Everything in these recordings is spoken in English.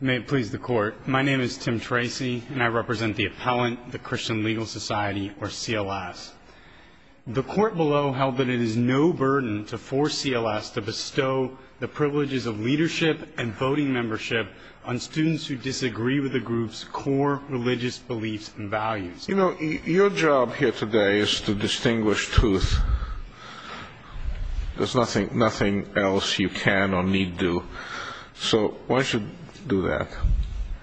May it please the Court, my name is Tim Tracy, and I represent the Appellant, the Christian Legal Society, or CLS. The Court below held that it is no burden to force CLS to bestow the privileges of leadership and voting membership on students who disagree with the group's core religious beliefs and values. You know, your job here today is to distinguish truth. There's nothing else you can or need do. So why should you do that?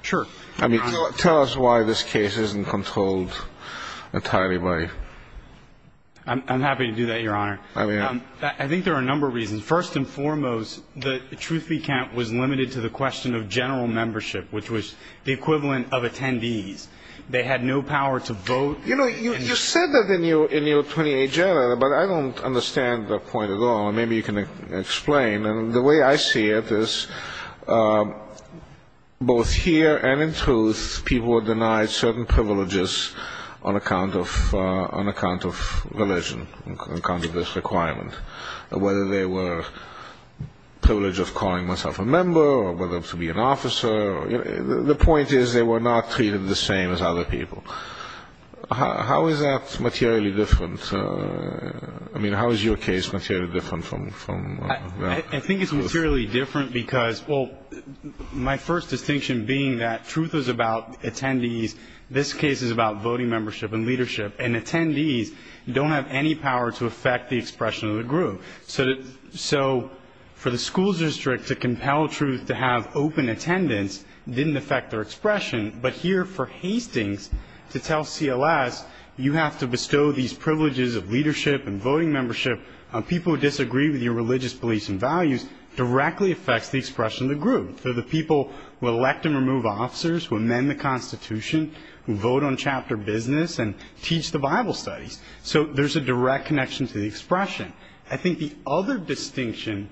Sure. I mean, tell us why this case isn't controlled entirely by... I'm happy to do that, Your Honor. I think there are a number of reasons. First and foremost, the truth be count was limited to the question of general membership, which was the equivalent of attendees. They had no power to vote. You know, you said that in your 28 general, but I don't understand the point at all. Maybe you can explain. The way I see it is both here and in truth, people were denied certain privileges on account of religion, on account of this requirement, whether they were privileged of calling themselves a member or whether to be an officer. The point is they were not treated the same as other people. How is that materially different? I mean, how is your case materially different from... I think it's materially different because, well, my first distinction being that truth is about attendees. This case is about voting membership and leadership, and attendees don't have any power to affect the expression of the group. So for the school district to compel truth to have open attendance didn't affect their expression, but here for Hastings to tell CLS you have to bestow these privileges of leadership and voting membership on people who disagree with your religious beliefs and values directly affects the expression of the group. So the people will elect and remove officers who amend the Constitution, who vote on chapter business, and teach the Bible studies. I think the other distinction,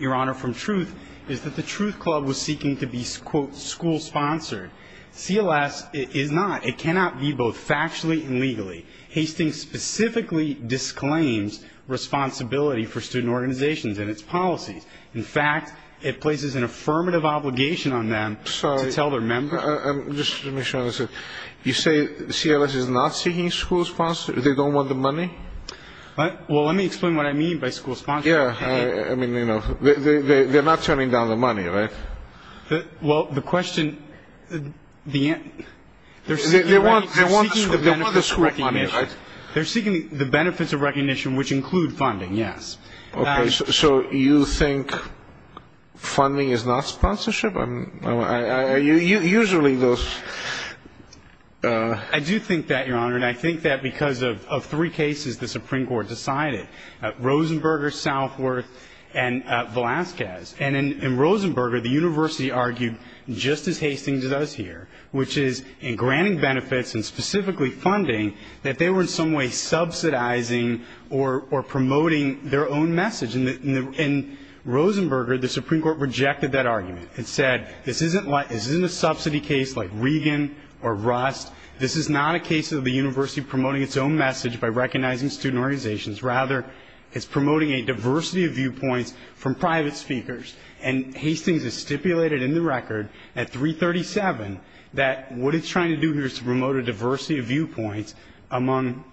Your Honor, from truth is that the truth club was seeking to be, quote, school-sponsored. CLS is not. It cannot be both factually and legally. Hastings specifically disclaims responsibility for student organizations and its policies. In fact, it places an affirmative obligation on them to tell their members. Let me show this. You say CLS is not seeking school-sponsored? They don't want the money? Well, let me explain what I mean by school-sponsored. Yeah, I mean, you know, they're not turning down the money, right? Well, the question, they're seeking the benefits of recognition, which include funding, yes. Okay, so you think funding is not sponsorship? I mean, are you usually those? I do think that, Your Honor, and I think that because of three cases the Supreme Court decided, Rosenberger, Southworth, and Velazquez. And in Rosenberger, the university argued just as Hastings does here, which is in granting benefits and specifically funding, that they were in some way subsidizing or promoting their own message. In Rosenberger, the Supreme Court rejected that argument. It said this isn't a subsidy case like Regan or Rust. This is not a case of the university promoting its own message by recognizing student organizations. Rather, it's promoting a diversity of viewpoints from private speakers. And Hastings has stipulated in the record at 337 that what it's trying to do here is to promote a diversity of viewpoints among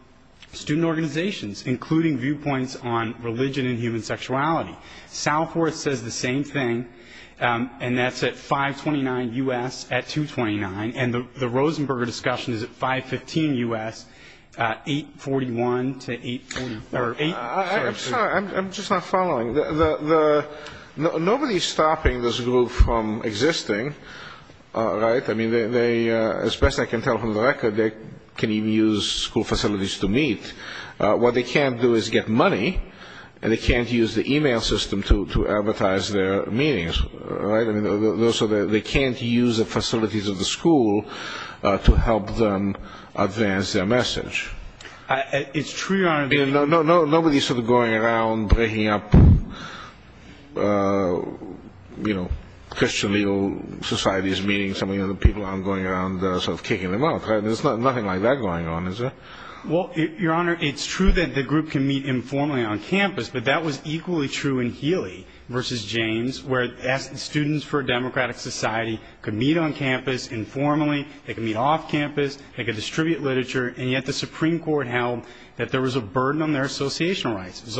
student organizations, including viewpoints on religion and human sexuality. Southworth says the same thing, and that's at 529 U.S. at 229. And the Rosenberger discussion is at 515 U.S., 841 to 840. I'm sorry, I'm just not following. Nobody's stopping this group from existing, right? I mean, as best I can tell from the record, they can even use school facilities to meet. What they can't do is get money, and they can't use the e-mail system to advertise their meetings, right? I mean, they can't use the facilities of the school to help them advance their message. It's true, Your Honor. Nobody's sort of going around breaking up, you know, Christian legal society's meetings. Some of the people are going around sort of kicking them out, right? There's nothing like that going on, is there? Well, Your Honor, it's true that the group can meet informally on campus, but that was equally true in Healy v. James, where students for a democratic society could meet on campus informally, they could meet off campus, they could distribute literature, and yet the Supreme Court held that there was a burden on their associational rights. It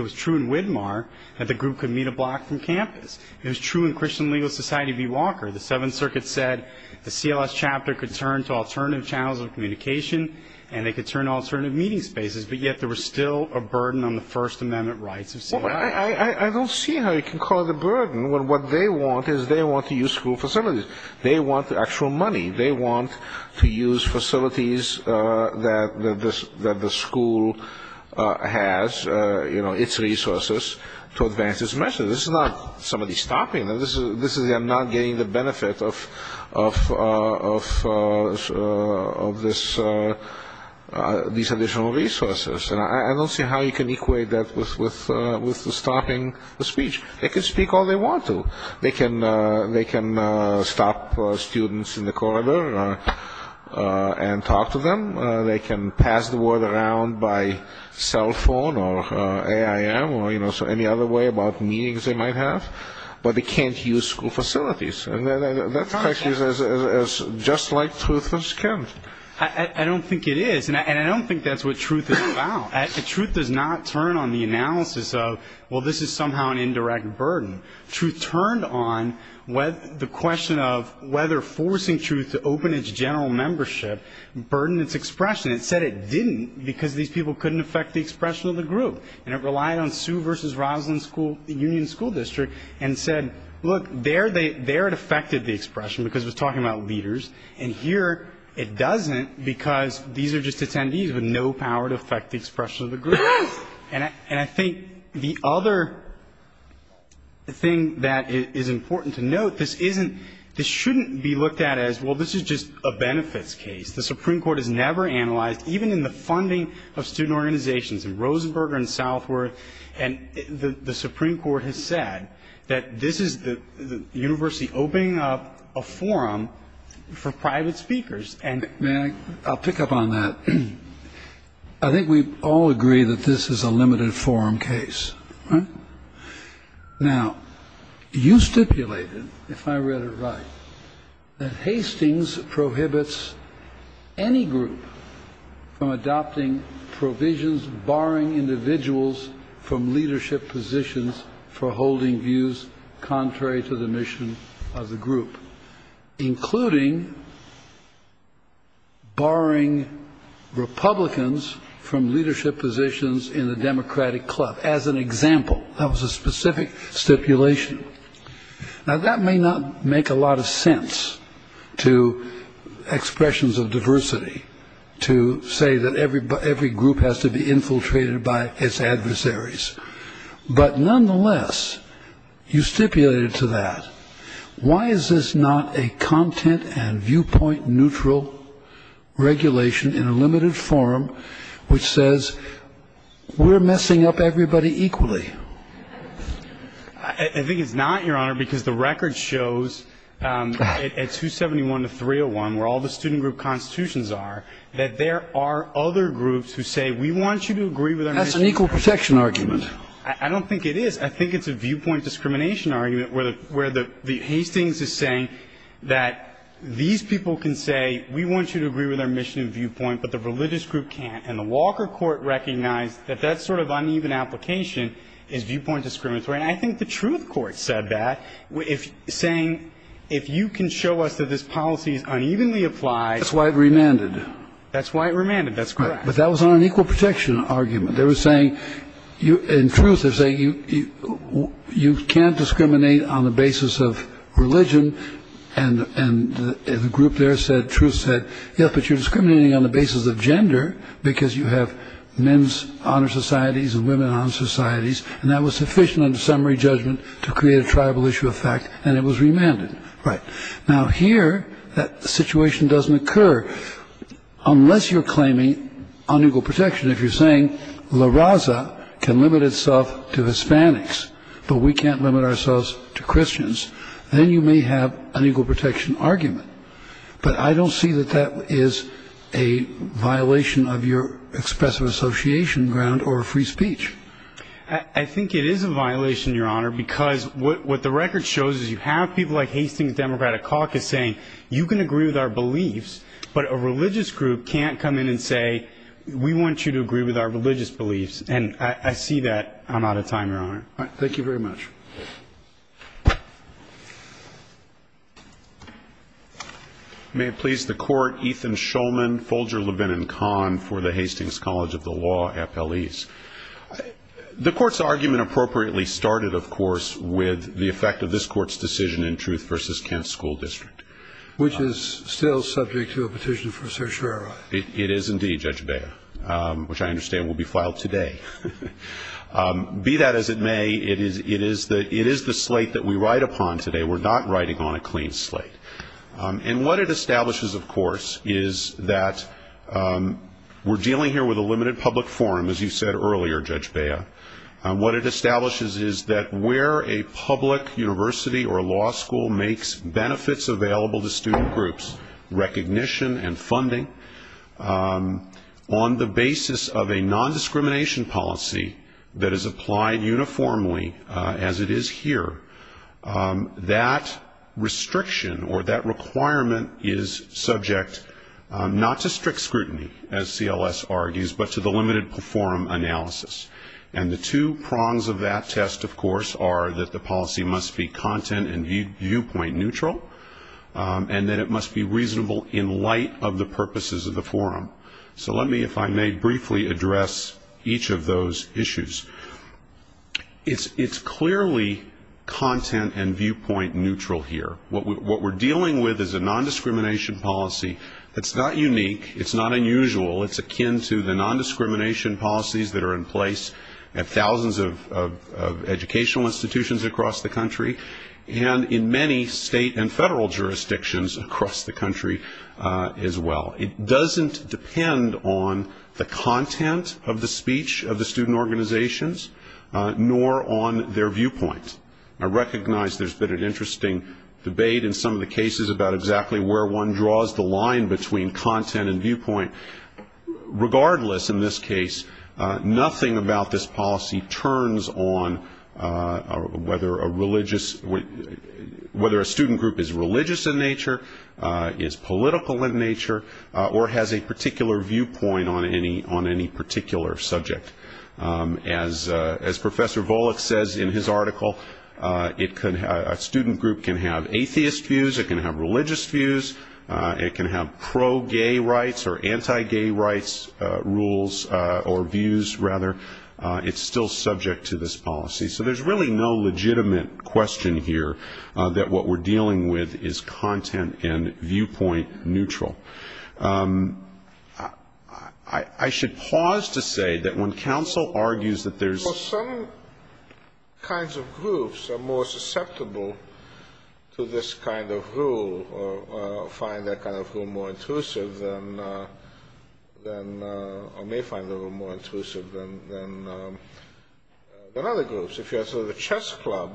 was true in Widmar that the group could meet a block from campus. It was true in Christian legal society v. Walker. The Seventh Circuit said the CLS chapter could turn to alternative channels of communication, and they could turn to alternative meeting spaces, but yet there was still a burden on the First Amendment rights of CLS. Well, I don't see how you can call it a burden when what they want is they want to use school facilities. They want the actual money. They want to use facilities that the school has, you know, its resources to advance its message. This is not somebody stopping them. This is them not getting the benefit of these additional resources, and I don't see how you can equate that with stopping the speech. They can speak all they want to. They can stop students in the corridor and talk to them. They can pass the word around by cell phone or AIM or, you know, any other way about meetings they might have, but they can't use school facilities. And that's just like truthless county. I don't think it is, and I don't think that's what truth is about. Truth does not turn on the analysis of, well, this is somehow an indirect burden. Truth turned on the question of whether forcing truth to open its general membership burdened its expression. It said it didn't because these people couldn't affect the expression of the group, and it relied on Sue v. Roslyn Union School District and said, look, there it affected the expression because it was talking about leaders, and here it doesn't because these are just attendees with no power to affect the expression of the group. And I think the other thing that is important to note, this shouldn't be looked at as, well, this is just a benefits case. The Supreme Court has never analyzed, even in the funding of student organizations in Rosenberger and Southworth, and the Supreme Court has said that this is the university opening up a forum for private speakers. May I? I'll pick up on that. I think we all agree that this is a limited forum case. Now, you stipulated, if I read it right, that Hastings prohibits any group from adopting provisions barring individuals from leadership positions for holding views contrary to the mission of the group, including barring Republicans from leadership positions in the Democratic Club, as an example. That was a specific stipulation. Now, that may not make a lot of sense to expressions of diversity, to say that every group has to be infiltrated by its adversaries, but nonetheless, you stipulated to that. Why is this not a content and viewpoint neutral regulation in a limited forum, which says we're messing up everybody equally? I think it's not, Your Honor, because the record shows at 271 to 301, where all the student group constitutions are, that there are other groups who say we want you to agree with our mission. That's an equal protection argument. I don't think it is. I think it's a viewpoint discrimination argument, where the Hastings is saying that these people can say, we want you to agree with our mission and viewpoint, but the religious group can't. And the Walker Court recognized that that sort of uneven application is viewpoint discriminatory. And I think the Truth Court said that, saying, if you can show us that this policy is unevenly applied. That's why it remanded. That's why it remanded. That's correct. But that was not an equal protection argument. They were saying, in truth, they're saying you can't discriminate on the basis of religion. And the group there said, Truth said, yes, but you're discriminating on the basis of gender, because you have men's honor societies and women honor societies. And that was sufficient under summary judgment to create a tribal issue of fact. And it was remanded. Right. Now, here, that situation doesn't occur, unless you're claiming unequal protection. If you're saying La Raza can limit itself to Hispanics, but we can't limit ourselves to Christians, then you may have an equal protection argument. But I don't see that that is a violation of your expressive association ground or free speech. I think it is a violation, Your Honor, because what the record shows is you have people like Hastings Democratic Caucus saying you can agree with our beliefs, but a religious group can't come in and say, we want you to agree with our religious beliefs. And I see that I'm out of time, Your Honor. Thank you very much. May it please the Court, Ethan Shulman, Folger, Levin, and Kahn for the Hastings College of the Law, FLEs. The Court's argument appropriately started, of course, with the effect of this Court's decision in Truth v. Kent School District. Which is still subject to a petition for certiorari. It is indeed, Judge Beyer, which I understand will be filed today. Be that as it may, it is the slate that we write upon today. We're not writing on a clean slate. And what it establishes, of course, is that we're dealing here with a limited public forum, as you said earlier, Judge Beyer. What it establishes is that where a public university or law school makes benefits available to student groups, recognition and funding, on the basis of a nondiscrimination policy that is applied uniformly as it is here, that restriction or that requirement is subject not to strict scrutiny, as CLS argues, but to the limited forum analysis. And the two prongs of that test, of course, are that the policy must be content and viewpoint neutral, and that it must be reasonable in light of the purposes of the forum. So let me, if I may, briefly address each of those issues. It's clearly content and viewpoint neutral here. What we're dealing with is a nondiscrimination policy that's not unique, it's not unusual, it's akin to the nondiscrimination policies that are in place at thousands of educational institutions across the country, and in many state and federal jurisdictions across the country as well. It doesn't depend on the content of the speech of the student organizations, nor on their viewpoint. I recognize there's been an interesting debate in some of the cases about exactly where one draws the line between content and viewpoint. Regardless, in this case, nothing about this policy turns on whether a student group is religious in nature, is political in nature, or has a particular viewpoint on any particular subject. As Professor Volokh says in his article, a student group can have atheist views, it can have religious views, it can have pro-gay rights or anti-gay rights rules or views, rather. It's still subject to this policy. So there's really no legitimate question here that what we're dealing with is content and viewpoint neutral. I should pause to say that when counsel argues that there's... Well, some kinds of groups are more susceptible to this kind of rule, or find that kind of rule more intrusive than, or may find the rule more intrusive than other groups. So the chess club,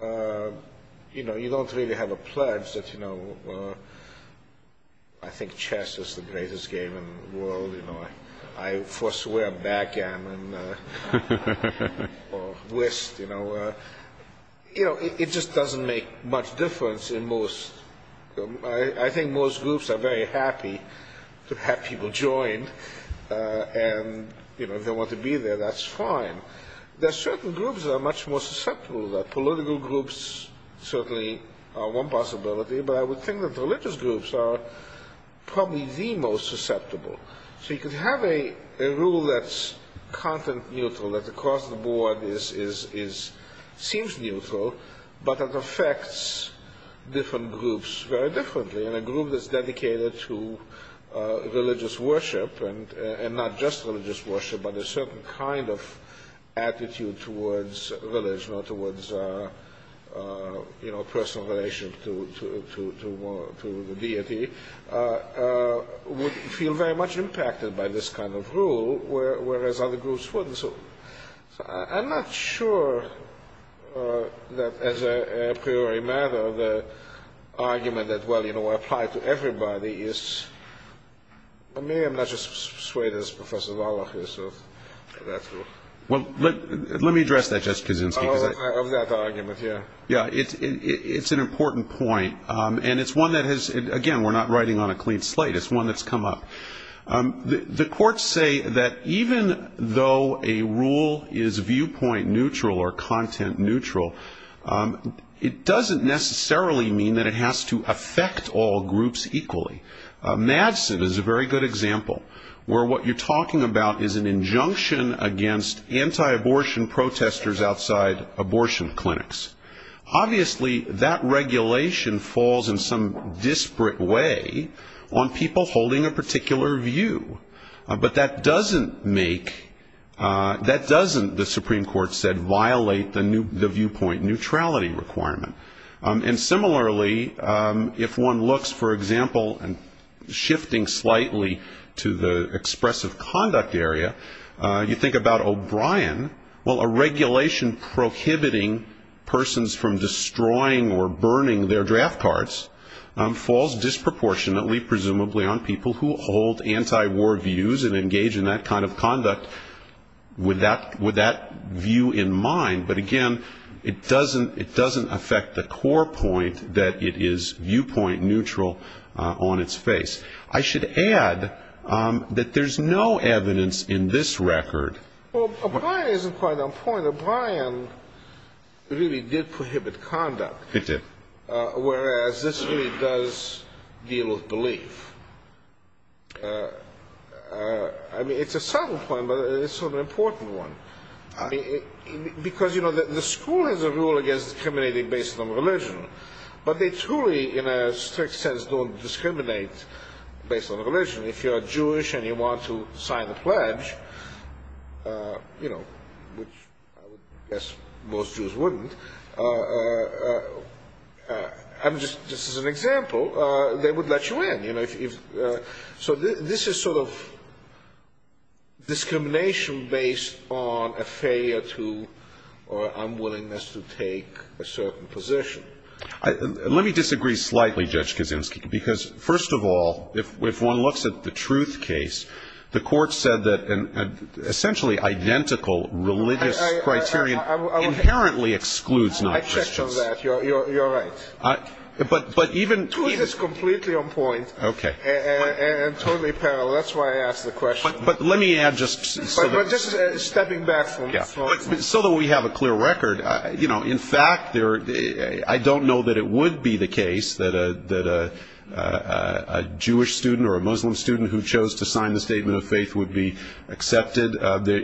you know, you don't really have a pledge that, you know, I think chess is the greatest game in the world, you know, I forswear backgammon or whist, you know. You know, it just doesn't make much difference in most... I think most groups are very happy to have people join and, you know, if they want to be there, that's fine. There are certain groups that are much more susceptible to that. Political groups certainly are one possibility, but I would think that religious groups are probably the most susceptible. So you could have a rule that's content neutral, that across the board seems neutral, but it affects different groups very differently, and a group that's dedicated to religious worship, and not just religious worship, but a certain kind of attitude towards religion or towards, you know, personal relations to the deity, would feel very much impacted by this kind of rule, whereas other groups wouldn't. So I'm not sure that, as a priori matter, the argument that, well, you know, I apply to everybody is... I mean, I'm not just swayed as Professor Wallach is. Well, let me address that, Justice Kuczynski. Of that argument, yeah. Yeah, it's an important point, and it's one that has... Again, we're not writing on a clean slate. It's one that's come up. The courts say that even though a rule is viewpoint neutral or content neutral, it doesn't necessarily mean that it has to affect all groups equally. Madsen is a very good example, where what you're talking about is an injunction against anti-abortion protesters outside abortion clinics. Obviously, that regulation falls in some disparate way on people holding a particular view. But that doesn't make... That doesn't, the Supreme Court said, violate the viewpoint neutrality requirement. And similarly, if one looks, for example, and shifting slightly to the expressive conduct area, you think about O'Brien. Well, a regulation prohibiting persons from destroying or burning their draft cards falls disproportionately, presumably, on people who hold anti-war views and engage in that kind of conduct with that view in mind. But again, it doesn't affect the core point that it is viewpoint neutral on its face. I should add that there's no evidence in this record... Well, O'Brien isn't quite on point. O'Brien really did prohibit conduct. He did. Whereas this really does deal with belief. I mean, it's a subtle point, but it's sort of an important one. Because, you know, the school has a rule against discriminating based on religion, but they truly, in a strict sense, don't discriminate based on religion. If you're a Jewish and you want to sign a pledge, you know, which I would guess most Jews wouldn't, just as an example, they would let you in. So this is sort of discrimination based on a failure to or unwillingness to take a certain position. Let me disagree slightly, Judge Kaczynski, because, first of all, if one looks at the truth case, the Court said that an essentially identical religious criterion inherently excludes non-Christians. I checked on that. You're right. But even... Truth is completely on point. Okay. And totally parallel. That's why I asked the question. But let me add just... But this is stepping back from... So that we have a clear record, you know, in fact, I don't know that it would be the case that a Jewish student or a Muslim student who chose to sign the Statement of Faith would be accepted.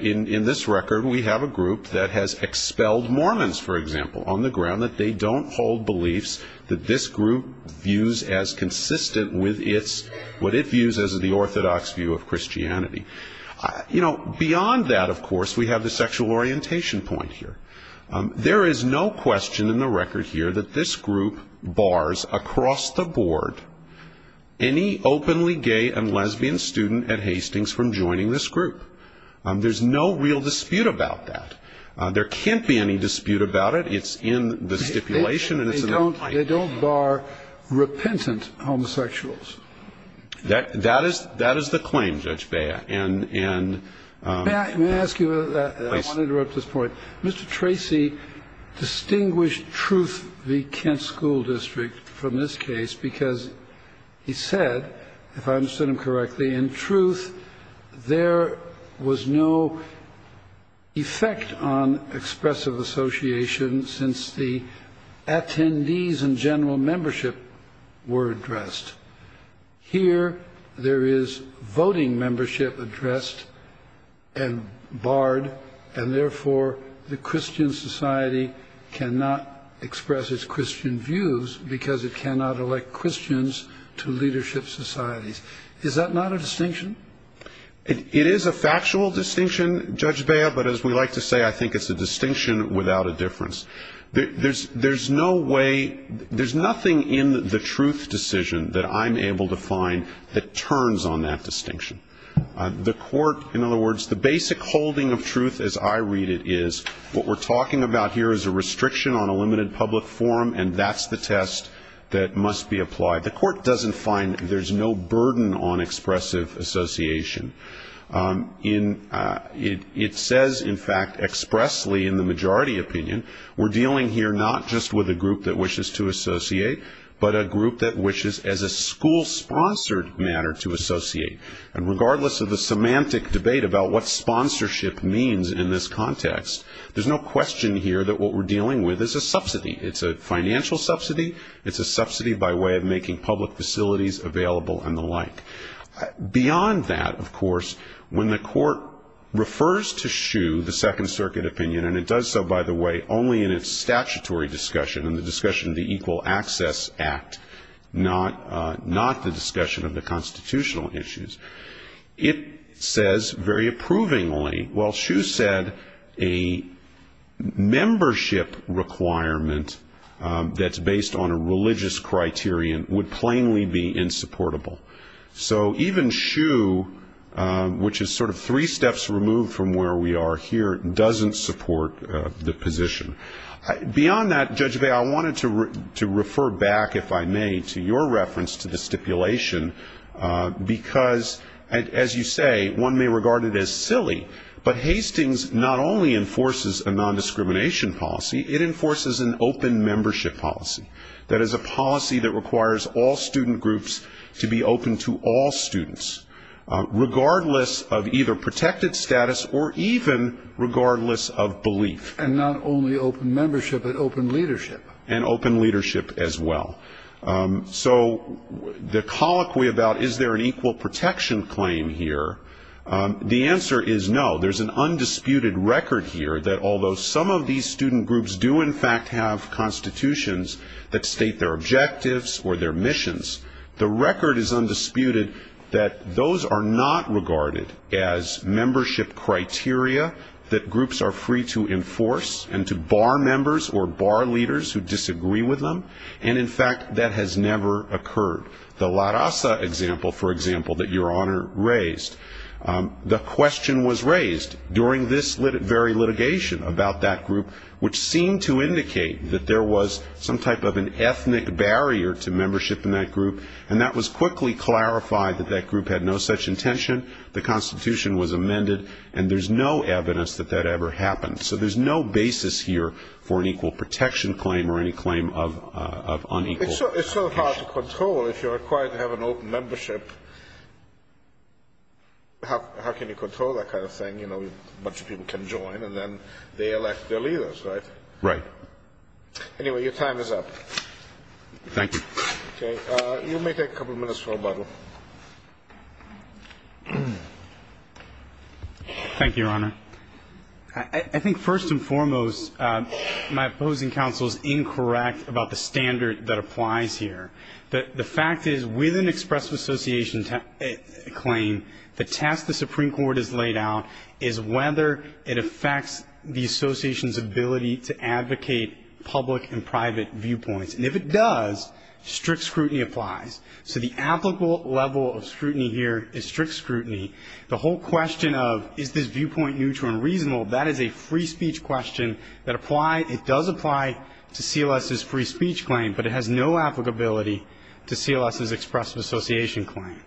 In this record, we have a group that has expelled Mormons, for example, on the ground that they don't hold beliefs that this group views as consistent with its... what it views as the orthodox view of Christianity. You know, beyond that, of course, we have the sexual orientation point here. There is no question in the record here that this group bars across the board any openly gay and lesbian student at Hastings from joining this group. There's no real dispute about that. There can't be any dispute about it. It's in the stipulation and it's in the... They don't bar repentant homosexuals. That is the claim, Judge Bea. May I ask you... I want to interrupt this point. Mr. Tracy distinguished Truth v. Kent School District from this case because he said, if I understood him correctly, in Truth there was no effect on expressive association since the attendees and general membership were addressed. Here there is voting membership addressed and barred, and therefore the Christian society cannot express its Christian views because it cannot elect Christians to leadership societies. Is that not a distinction? It is a factual distinction, Judge Bea, but as we like to say, I think it's a distinction without a difference. There's no way... There's nothing in the Truth decision that I'm able to find that turns on that distinction. The court, in other words, the basic holding of Truth as I read it, is what we're talking about here is a restriction on a limited public forum, and that's the test that must be applied. The court doesn't find there's no burden on expressive association. It says, in fact, expressly in the majority opinion, we're dealing here not just with a group that wishes to associate, but a group that wishes as a school-sponsored matter to associate. And regardless of the semantic debate about what sponsorship means in this context, there's no question here that what we're dealing with is a subsidy. It's a financial subsidy. It's a subsidy by way of making public facilities available and the like. Beyond that, of course, when the court refers to Hsu, the Second Circuit opinion, and it does so, by the way, only in its statutory discussion, in the discussion of the Equal Access Act, not the discussion of the constitutional issues, it says very approvingly, well, Hsu said a membership requirement that's based on a religious criterion would plainly be insupportable. So even Hsu, which is sort of three steps removed from where we are here, doesn't support the position. Beyond that, Judge Bayh, I wanted to refer back, if I may, to your reference to the stipulation, because, as you say, one may regard it as silly, but Hastings not only enforces a nondiscrimination policy, it enforces an open membership policy. That is a policy that requires all student groups to be open to all students, regardless of either protected status or even regardless of belief. And not only open membership, but open leadership. And open leadership as well. So the colloquy about is there an equal protection claim here, the answer is no. There's an undisputed record here that although some of these student groups do, in fact, have constitutions that state their objectives or their missions, the record is undisputed that those are not regarded as membership criteria that groups are free to enforce and to bar members or bar leaders who disagree with them. And, in fact, that has never occurred. The La Raza example, for example, that Your Honor raised, the question was raised during this very litigation about that group, which seemed to indicate that there was some type of an ethnic barrier to membership in that group, and that was quickly clarified that that group had no such intention, the Constitution was amended, and there's no evidence that that ever happened. So there's no basis here for an equal protection claim or any claim of unequal protection. It's so hard to control if you're required to have an open membership. How can you control that kind of thing? You know, a bunch of people can join, and then they elect their leaders, right? Right. Anyway, your time is up. Thank you. Okay. Thank you, Your Honor. I think, first and foremost, my opposing counsel is incorrect about the standard that applies here. The fact is, with an expressive association claim, the test the Supreme Court has laid out is whether it affects the association's ability to advocate public and private viewpoints. And if it does, strict scrutiny applies. So the applicable level of scrutiny here is strict scrutiny. The whole question of, is this viewpoint neutral and reasonable, that is a free speech question that applies. It does apply to CLS's free speech claim, but it has no applicability to CLS's expressive association claim.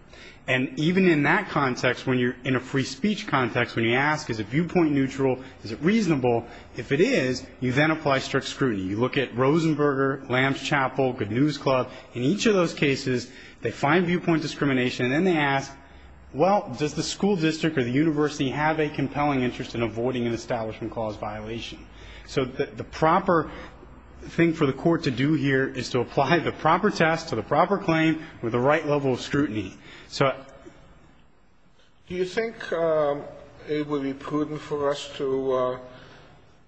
And even in that context, when you're in a free speech context, when you ask, is it viewpoint neutral, is it reasonable, if it is, you then apply strict scrutiny. You look at Rosenberger, Lambs Chapel, Good News Club. In each of those cases, they find viewpoint discrimination, and then they ask, well, does the school district or the university have a compelling interest in avoiding an establishment cause violation? So the proper thing for the Court to do here is to apply the proper test to the proper claim with the right level of scrutiny. So do you think it would be prudent for us to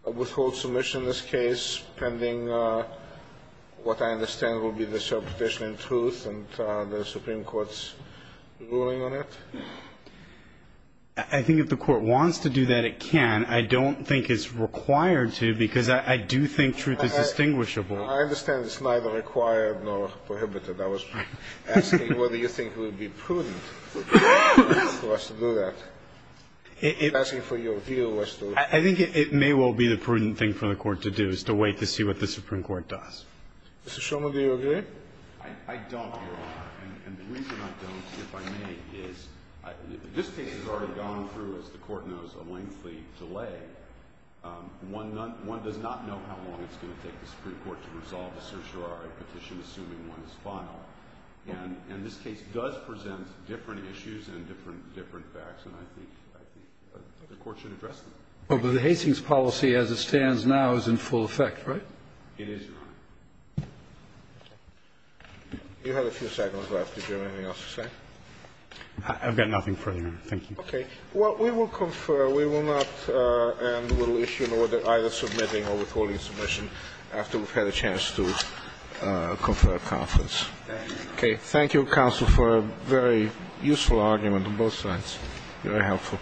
withhold submission in this case pending what I understand will be the subpoena in truth and the Supreme Court's ruling on it? I think if the Court wants to do that, it can. I don't think it's required to, because I do think truth is distinguishable. I understand it's neither required nor prohibited. I was asking whether you think it would be prudent for us to do that. I'm asking for your view as to... I think it may well be the prudent thing for the Court to do, is to wait to see what the Supreme Court does. Mr. Shulman, do you agree? I don't, Your Honor. And the reason I don't, if I may, is this case has already gone through, as the Court knows, a lengthy delay. One does not know how long it's going to take the Supreme Court to resolve a certiorari petition, assuming one is final. And this case does present different issues and different facts, and I think the Court should address them. Well, but the Hastings policy as it stands now is in full effect, right? It is, Your Honor. You have a few seconds left. Did you have anything else to say? I've got nothing further, Your Honor. Thank you. Okay. Well, we will confer. We will not, and we'll issue an order either submitting or withholding submission after we've had a chance to confer a conference. Thank you. Okay. Thank you, counsel, for a very useful argument on both sides. Very helpful.